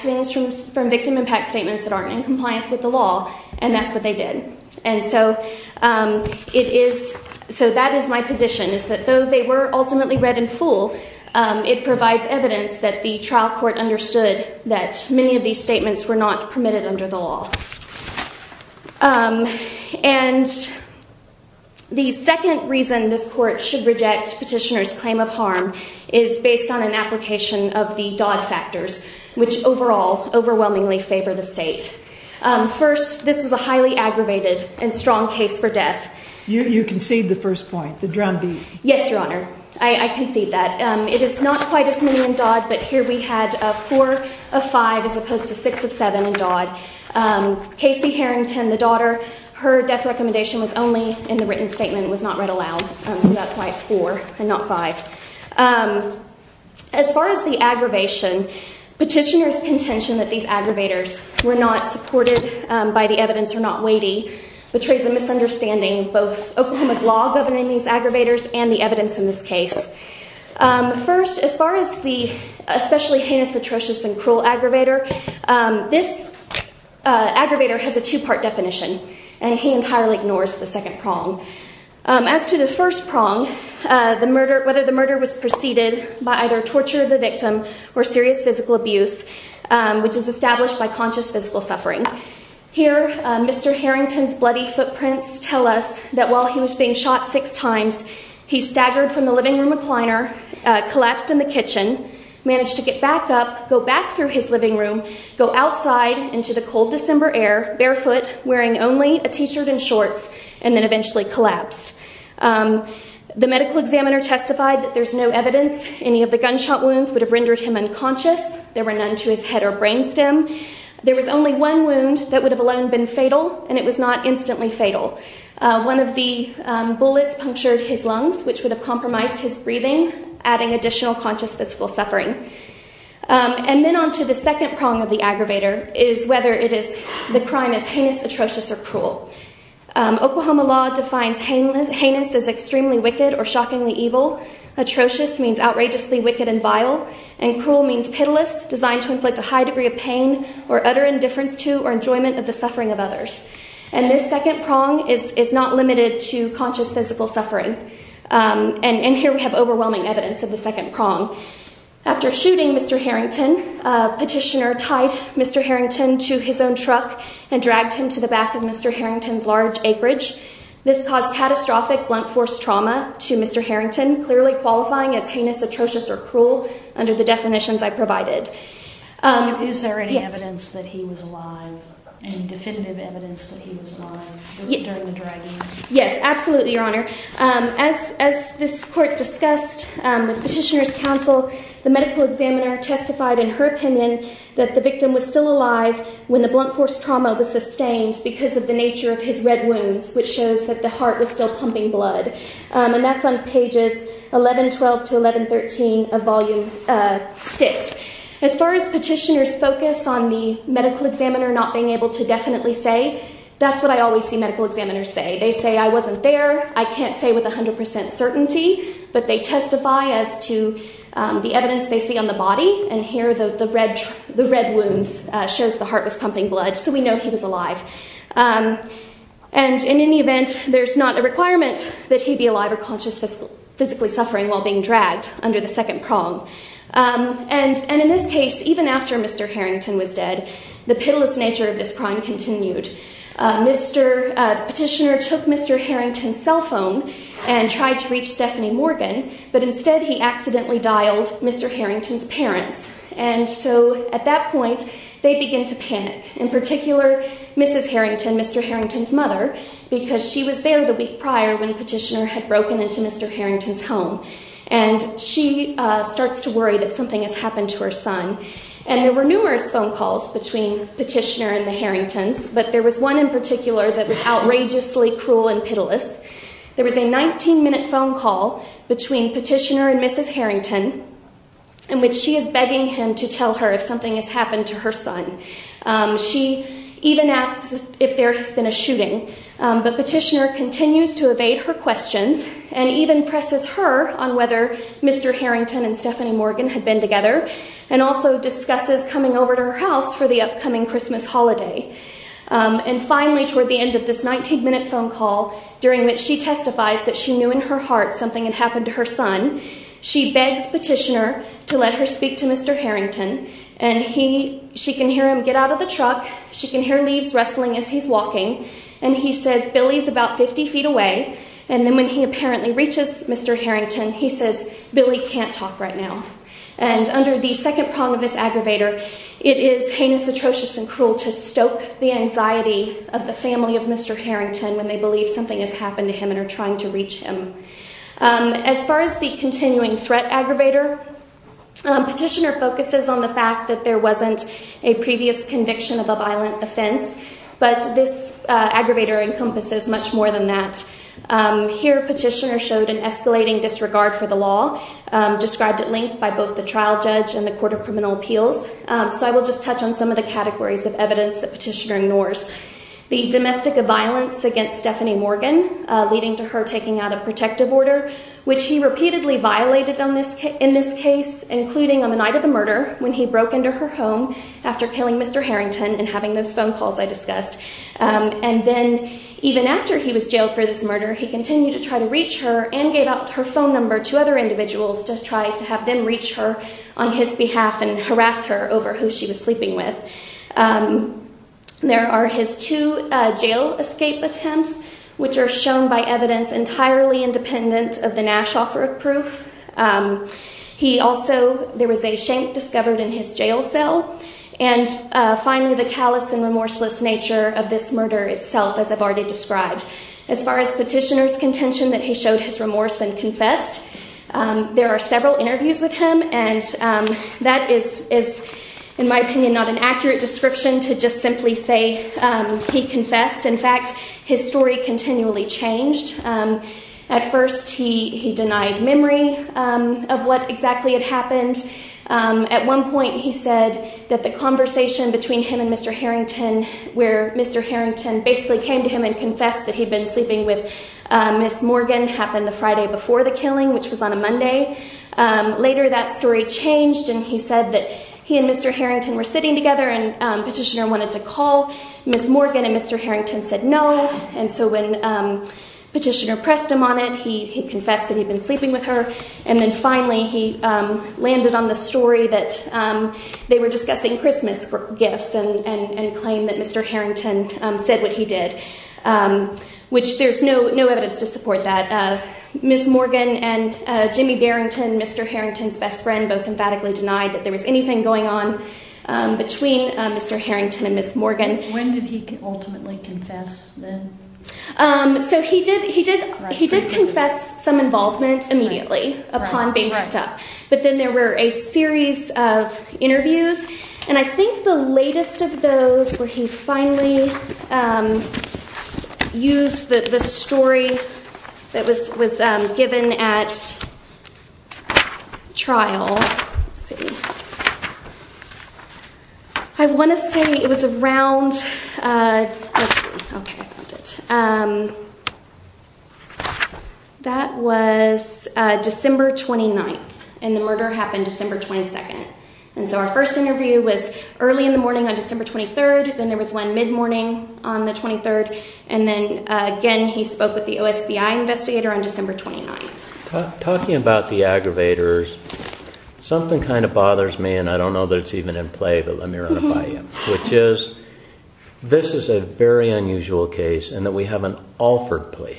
things from victim impact statements that aren't in compliance with the law, and that's what they did. And so it is, so that is my position, is that though they were ultimately read in full, it provides evidence that the trial court understood that many of these statements were not permitted under the law. And the second reason this court should reject petitioner's claim of harm is based on an application of the Dodd factors, which overall overwhelmingly favor the state. First, this was a highly aggravated and strong case for death. You concede the first point, the drumbeat. Yes, Your Honor, I concede that. It is not quite as many in Dodd, but here we had four of five as opposed to six of seven in Dodd. Casey Harrington, the daughter, her death recommendation was only in the written statement. It was not read aloud, so that's why it's four and not five. As far as the aggravation, petitioner's contention that these aggravators were not supported by the evidence or not weighty betrays a misunderstanding of both Oklahoma's law governing these aggravators and the evidence in this case. First, as far as the especially heinous, atrocious, and cruel aggravator, this aggravator has a two-part definition, and he entirely ignores the second prong. As to the first prong, whether the murder was preceded by either torture of the victim or serious physical abuse, which is established by conscious physical suffering. Here, Mr. Harrington's bloody footprints tell us that while he was being shot six times, he staggered from the living room recliner, collapsed in the kitchen, managed to get back up, go back through his living room, go outside into the cold December air, barefoot, wearing only a T-shirt and shorts, and then eventually collapsed. The medical examiner testified that there's no evidence any of the gunshot wounds would have rendered him unconscious. There were none to his head or brain stem. There was only one wound that would have alone been fatal, and it was not instantly fatal. One of the bullets punctured his lungs, which would have compromised his breathing, adding additional conscious physical suffering. And then on to the second prong of the aggravator is whether the crime is heinous, atrocious, or cruel. Oklahoma law defines heinous as extremely wicked or shockingly evil. Atrocious means outrageously wicked and vile, and cruel means pitiless, designed to inflict a high degree of pain or utter indifference to or enjoyment of the suffering of others. And this second prong is not limited to conscious physical suffering. And here we have overwhelming evidence of the second prong. After shooting Mr. Harrington, a petitioner tied Mr. Harrington to his own truck and dragged him to the back of Mr. Harrington's large acreage. This caused catastrophic blunt force trauma to Mr. Harrington, clearly qualifying as heinous, atrocious, or cruel under the definitions I provided. Is there any evidence that he was alive? Any definitive evidence that he was alive during the dragging? Yes, absolutely, Your Honor. As this court discussed with petitioner's counsel, the medical examiner testified in her opinion that the victim was still alive when the blunt force trauma was sustained because of the nature of his red wounds, which shows that the heart was still pumping blood. And that's on pages 1112 to 1113 of Volume 6. As far as petitioner's focus on the medical examiner not being able to definitely say, that's what I always see medical examiners say. They say, I wasn't there, I can't say with 100% certainty, but they testify as to the evidence they see on the body, and here the red wounds shows the heart was pumping blood, so we know he was alive. And in any event, there's not a requirement that he be alive or conscious of physically suffering while being dragged under the second prong. And in this case, even after Mr. Harrington was dead, the pitiless nature of this crime continued. Petitioner took Mr. Harrington's cell phone and tried to reach Stephanie Morgan, but instead he accidentally dialed Mr. Harrington's parents. And so at that point, they begin to panic. In particular, Mrs. Harrington, Mr. Harrington's mother, because she was there the week prior when petitioner had broken into Mr. Harrington's home. And she starts to worry that something has happened to her son. And there were numerous phone calls between petitioner and the Harringtons, but there was one in particular that was outrageously cruel and pitiless. There was a 19-minute phone call between petitioner and Mrs. Harrington in which she is begging him to tell her if something has happened to her son. She even asks if there has been a shooting, but petitioner continues to evade her questions and even presses her on whether Mr. Harrington and Stephanie Morgan had been together and also discusses coming over to her house for the upcoming Christmas holiday. And finally, toward the end of this 19-minute phone call, during which she testifies that she knew in her heart something had happened to her son, she begs petitioner to let her speak to Mr. Harrington. And she can hear him get out of the truck. She can hear leaves rustling as he's walking. And he says, Billy's about 50 feet away. And then when he apparently reaches Mr. Harrington, he says, Billy can't talk right now. And under the second prong of this aggravator, it is heinous, atrocious, and cruel to stoke the anxiety of the family of Mr. Harrington when they believe something has happened to him and are trying to reach him. As far as the continuing threat aggravator, petitioner focuses on the fact that there wasn't a previous conviction of a violent offense, but this aggravator encompasses much more than that. Here, petitioner showed an escalating disregard for the law described at length by both the trial judge and the Court of Criminal Appeals. So I will just touch on some of the categories of evidence that petitioner ignores. The domestic violence against Stephanie Morgan, leading to her taking out a protective order, which he repeatedly violated in this case, including on the night of the murder when he broke into her home after killing Mr. Harrington and having those phone calls I discussed. And then even after he was jailed for this murder, he continued to try to reach her and gave out her phone number to other individuals to try to have them reach her on his behalf and harass her over who she was sleeping with. There are his two jail escape attempts, which are shown by evidence entirely independent of the Nash offer of proof. He also, there was a shank discovered in his jail cell. And finally, the callous and remorseless nature of this murder itself, as I've already described. As far as petitioner's contention that he showed his remorse and confessed, there are several interviews with him. And that is, in my opinion, not an accurate description to just simply say he confessed. In fact, his story continually changed. At first, he denied memory of what exactly had happened. At one point, he said that the conversation between him and Mr. Harrington, where Mr. Harrington basically came to him and confessed that he'd been sleeping with Miss Morgan, happened the Friday before the killing, which was on a Monday. Later, that story changed and he said that he and Mr. Harrington were sitting together and petitioner wanted to call Miss Morgan and Mr. Harrington said no. And so when petitioner pressed him on it, he confessed that he'd been sleeping with her. And then finally, he landed on the story that they were discussing Christmas gifts and claimed that Mr. Harrington said what he did, which there's no evidence to support that. Miss Morgan and Jimmy Barrington, Mr. Harrington's best friend, both emphatically denied that there was anything going on between Mr. Harrington and Miss Morgan. When did he ultimately confess then? So he did confess some involvement immediately upon being picked up. But then there were a series of interviews and I think the latest of those was where he finally used the story that was given at trial. Let's see. I want to say it was around, let's see, okay, I found it. That was December 29th and the murder happened December 22nd. And so our first interview was early in the morning on December 23rd. Then there was one mid-morning on the 23rd. And then again, he spoke with the OSPI investigator on December 29th. Talking about the aggravators, something kind of bothers me and I don't know that it's even in play, but let me run it by you, which is this is a very unusual case and that we have an Alford plea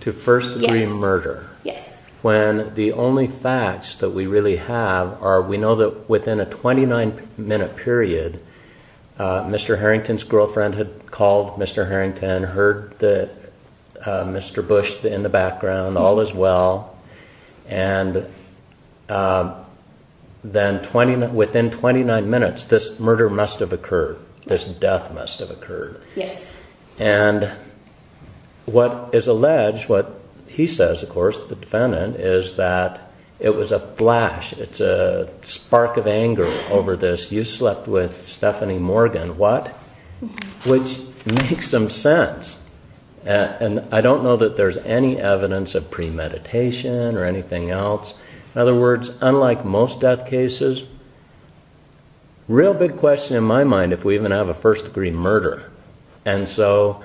to first degree murder. Yes. When the only facts that we really have are we know that within a 29 minute period, Mr. Harrington's girlfriend had called Mr. Harrington, heard Mr. Bush in the background, all is well. And then within 29 minutes, this murder must have occurred. This death must have occurred. Yes. And what is alleged, what he says, of course, the defendant is that it was a flash. It's a spark of anger over this. You slept with Stephanie Morgan. What? Which makes some sense. And I don't know that there's any evidence of premeditation or anything else. In other words, unlike most death cases, real big question in my mind, if we even have a first degree murder. And so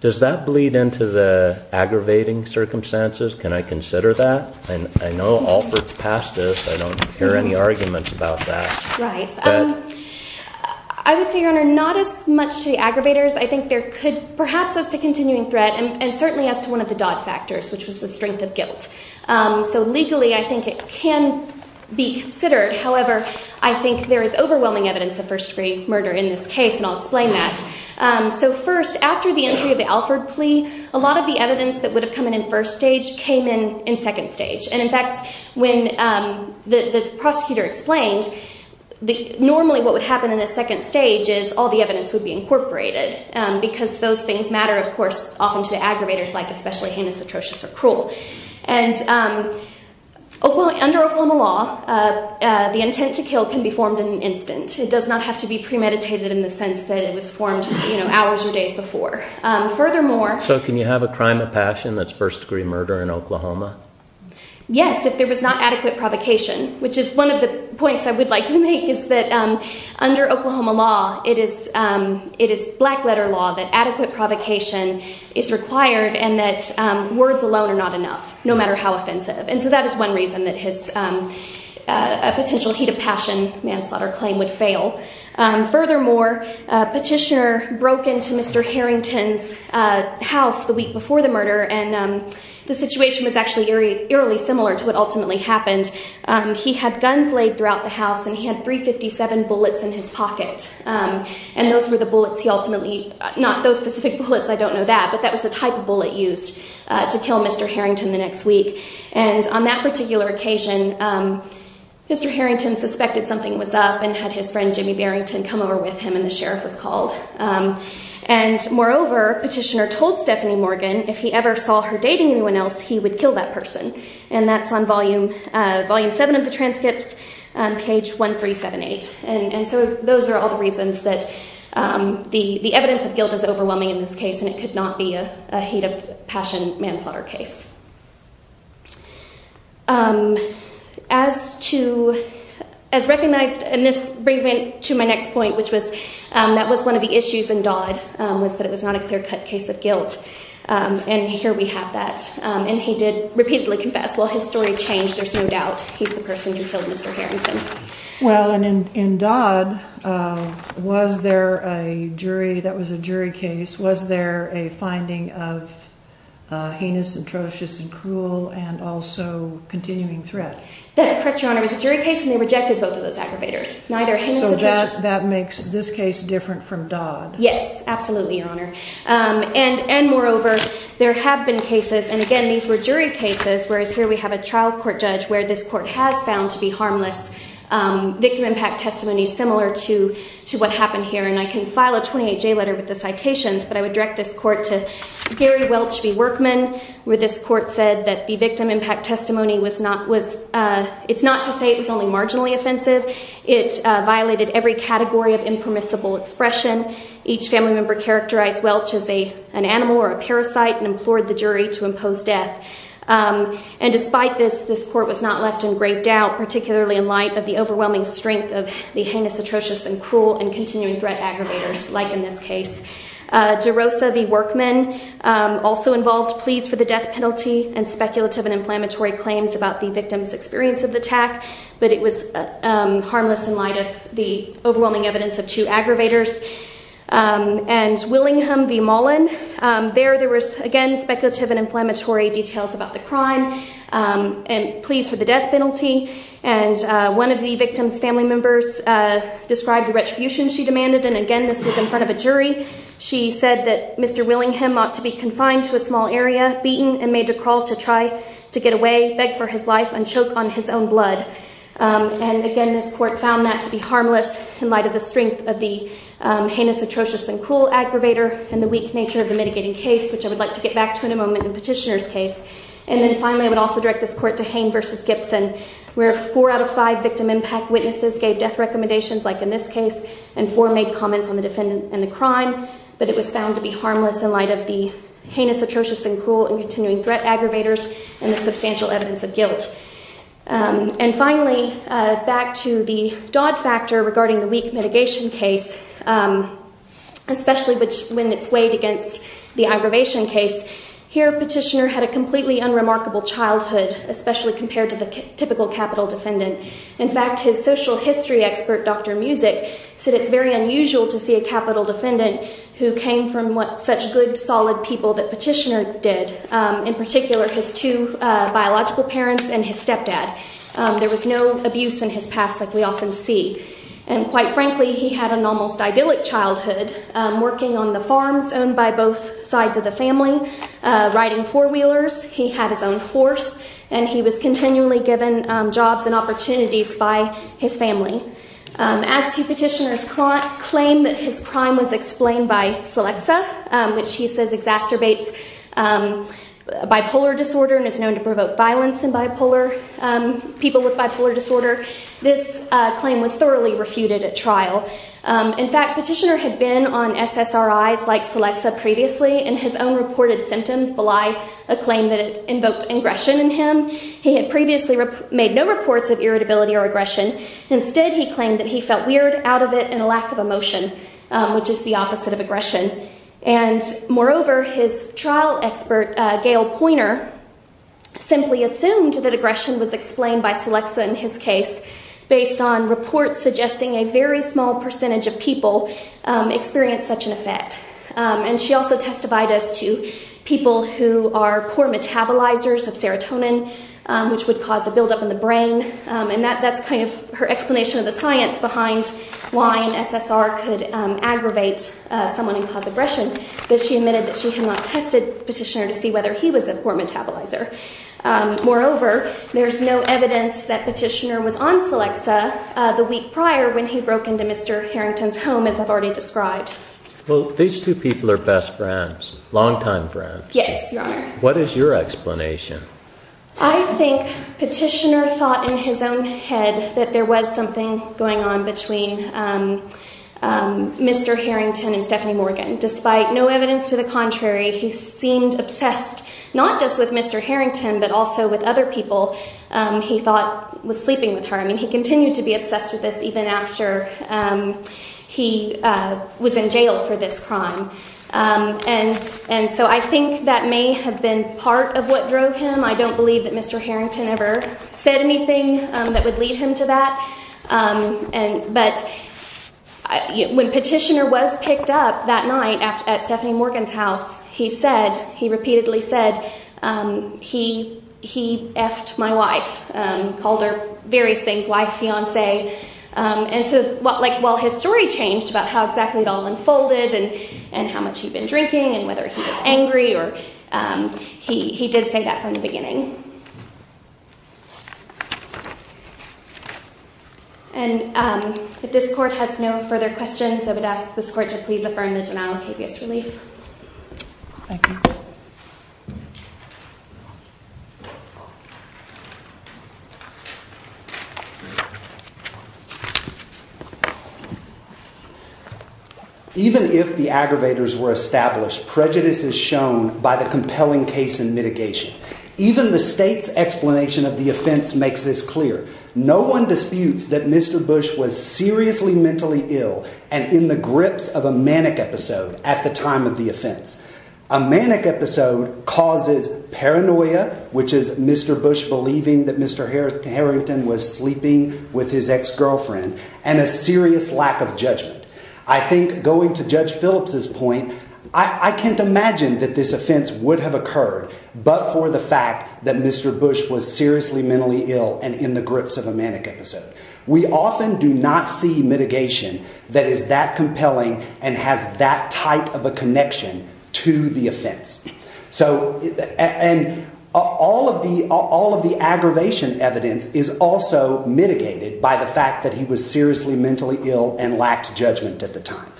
does that bleed into the aggravating circumstances? Can I consider that? And I know Alford's past this. I don't hear any arguments about that. Right. I would say, Your Honor, not as much to the aggravators. I think there could perhaps as to continuing threat and certainly as to one of the Dodd factors, which was the strength of guilt. So legally, I think it can be considered. However, I think there is overwhelming evidence of first degree murder in this case. And I'll explain that. So first, after the entry of the Alford plea, a lot of the evidence that would have come in in first stage came in in second stage. And in fact, when the prosecutor explained, normally what would happen in a second stage is all the evidence would be incorporated. Because those things matter, of course, often to the aggravators, like especially heinous, atrocious or cruel. And under Oklahoma law, the intent to kill can be formed in an instant. It does not have to be premeditated in the sense that it was formed hours or days before. Furthermore… So can you have a crime of passion that's first degree murder in Oklahoma? Yes, if there was not adequate provocation, which is one of the points I would like to make is that under Oklahoma law, it is black letter law that adequate provocation is required and that words alone are not enough, no matter how offensive. And so that is one reason that a potential heat of passion manslaughter claim would fail. Furthermore, a petitioner broke into Mr. Harrington's house the week before the murder and the situation was actually eerily similar to what ultimately happened. He had guns laid throughout the house and he had 357 bullets in his pocket. And those were the bullets he ultimately… Not those specific bullets, I don't know that, but that was the type of bullet used to kill Mr. Harrington the next week. And on that particular occasion, Mr. Harrington suspected something was up and had his friend Jimmy Barrington come over with him and the sheriff was called. And moreover, petitioner told Stephanie Morgan, if he ever saw her dating anyone else, he would kill that person. And that's on volume 7 of the transcripts, page 1378. And so those are all the reasons that the evidence of guilt is overwhelming in this case and it could not be a heat of passion manslaughter case. As recognized, and this brings me to my next point, which was that was one of the issues in Dodd, was that it was not a clear-cut case of guilt. And here we have that. And he did repeatedly confess. Well, his story changed, there's no doubt. He's the person who killed Mr. Harrington. Well, and in Dodd, was there a jury, that was a jury case, was there a finding of heinous, atrocious and cruel and also continuing threat? That's correct, Your Honor. It was a jury case and they rejected both of those aggravators. So that makes this case different from Dodd. Yes, absolutely, Your Honor. And moreover, there have been cases, and again, these were jury cases, whereas here we have a trial court judge where this court has found to be harmless victim impact testimony similar to what happened here. And I can file a 28-J letter with the citations, but I would direct this court to Gary Welch v. Workman, where this court said that the victim impact testimony was not, it's not to say it was only marginally offensive. It violated every category of impermissible expression. Each family member characterized Welch as an animal or a parasite and implored the jury to impose death. And despite this, this court was not left in great doubt, particularly in light of the overwhelming strength of the heinous, extreme threat aggravators, like in this case. DeRosa v. Workman also involved pleas for the death penalty and speculative and inflammatory claims about the victim's experience of the attack, but it was harmless in light of the overwhelming evidence of two aggravators. And Willingham v. Mollen, there there was, again, speculative and inflammatory details about the crime and pleas for the death penalty. And one of the victim's family members described the retribution she demanded and again, this was in front of a jury. She said that Mr. Willingham ought to be confined to a small area, beaten, and made to crawl to try to get away, beg for his life, and choke on his own blood. And again, this court found that to be harmless in light of the strength of the heinous, atrocious, and cruel aggravator and the weak nature of the mitigating case, which I would like to get back to in a moment in Petitioner's case. And then finally, I would also direct this court to Hain v. Gibson, where four out of five victim impact witnesses gave death recommendations, like in this case, and four made comments on the defendant and the crime, but it was found to be harmless in light of the heinous, atrocious, and cruel and continuing threat aggravators and the substantial evidence of guilt. And finally, back to the Dodd factor regarding the weak mitigation case, especially when it's weighed against the aggravation case. Here, Petitioner had a completely unremarkable childhood, especially compared to the typical capital defendant. In fact, his social history expert, Dr. Music, said it's very unusual to see a capital defendant who came from such good, solid people that Petitioner did, in particular his two biological parents and his stepdad. There was no abuse in his past like we often see. And quite frankly, he had an almost idyllic childhood, working on the farms owned by both sides of the family, riding four-wheelers. He had his own horse, and he was continually given jobs and opportunities by his family. As to Petitioner's claim that his crime was explained by Celexa, which he says exacerbates bipolar disorder and is known to provoke violence in people with bipolar disorder, this claim was thoroughly refuted at trial. In fact, Petitioner had been on SSRIs like Celexa previously, and his own reported symptoms belie a claim that it invoked aggression against him. He had previously made no reports of irritability or aggression. Instead, he claimed that he felt weird out of it and a lack of emotion, which is the opposite of aggression. And moreover, his trial expert, Gail Pointer, simply assumed that aggression was explained by Celexa in his case based on reports suggesting a very small percentage of people experienced such an effect. And she also testified as to people who are poor metabolizers of serotonin which would cause a buildup in the brain. And that's kind of her explanation of the science behind why an SSR could aggravate someone and cause aggression. But she admitted that she had not tested Petitioner to see whether he was a poor metabolizer. Moreover, there's no evidence that Petitioner was on Celexa the week prior when he broke into Mr. Harrington's home, as I've already described. Well, these two people are best friends, longtime friends. Yes, Your Honor. What is your explanation? I think Petitioner thought in his own head that there was something going on between Mr. Harrington and Stephanie Morgan. Despite no evidence to the contrary, he seemed obsessed not just with Mr. Harrington, but also with other people he thought were sleeping with her. I mean, he continued to be obsessed with this even after he was in jail for this crime. And so I think that may have been part of what drove him. I don't believe that Mr. Harrington ever said anything that would lead him to that. But when Petitioner was picked up that night at Stephanie Morgan's house, he said, he repeatedly said, he effed my wife. Called her various things, wife, fiance. And so while his story changed about how exactly it all unfolded and how much he'd been drinking and whether he was angry, he did say that from the beginning. And if this Court has no further questions, I would ask this Court to please affirm the denial of habeas relief. Thank you. Thank you. Even if the aggravators were established, prejudice is shown by the compelling case and mitigation. Even the state's explanation of the offense makes this clear. No one disputes that Mr. Bush was seriously mentally ill and in the grips of a manic episode at the time of the offense. A manic episode causes paranoia, which is Mr. Bush believing that Mr. Harrington was sleeping with his ex-girlfriend and a serious lack of judgment. I think going to Judge Phillips's point, I can't imagine that this offense would have occurred, but for the fact that Mr. Bush was seriously mentally ill and in the grips of a manic episode. We often do not see mitigation that is that compelling and has that type of a connection to the offense. And all of the aggravation evidence is also mitigated by the fact that he was seriously mentally ill and lacked judgment at the time.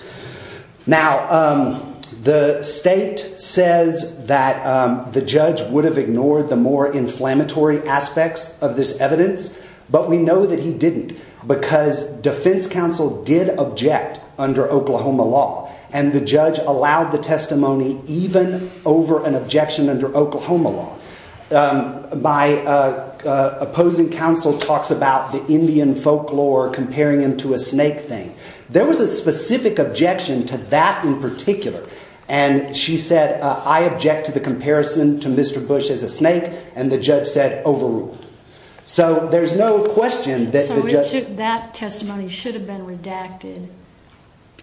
Now, the state says that the judge would have ignored the more inflammatory aspects of this evidence, but we know that he didn't, because defense counsel did object under Oklahoma law and the judge allowed the testimony even over an objection under Oklahoma law. My opposing counsel talks about the Indian folklore comparing him to a snake thing. There was a specific objection to that in particular and she said, I object to the comparison to Mr. Bush as a snake and the judge said overruled. So there's no question that the judge... So that testimony should have been redacted.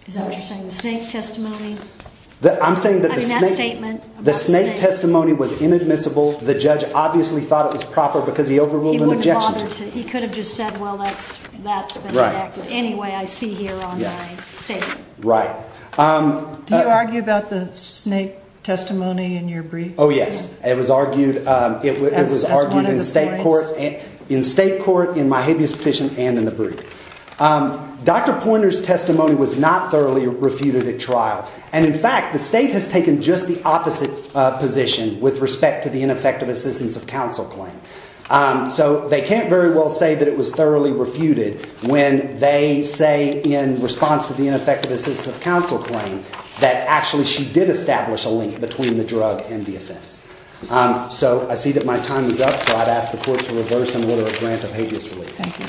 Is that what you're saying? The snake testimony? I'm saying that the snake testimony was inadmissible. The judge obviously thought it was proper because he overruled an objection. He could have just said, well, that's been redacted. Anyway, I see here on my statement. Right. Do you argue about the snake testimony in your brief? Oh, yes. It was argued in state court, in my habeas petition and in the brief. Dr. Pointer's testimony was not thoroughly refuted at trial and in fact, the state has taken just the opposite position with respect to the ineffective assistance of counsel claim. So they can't very well say that it was thoroughly refuted when they say in response to the ineffective assistance of counsel claim that actually she did establish a link between the drug and the offense. So I see that my time is up. So I'd ask the court to reverse and order a grant of habeas relief. Thank you.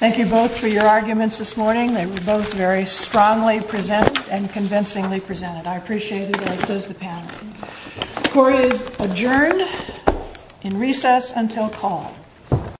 Thank you both for your arguments this morning. They were both very strongly presented and convincingly presented. I appreciate it as does the panel. The court is adjourned in recess until call.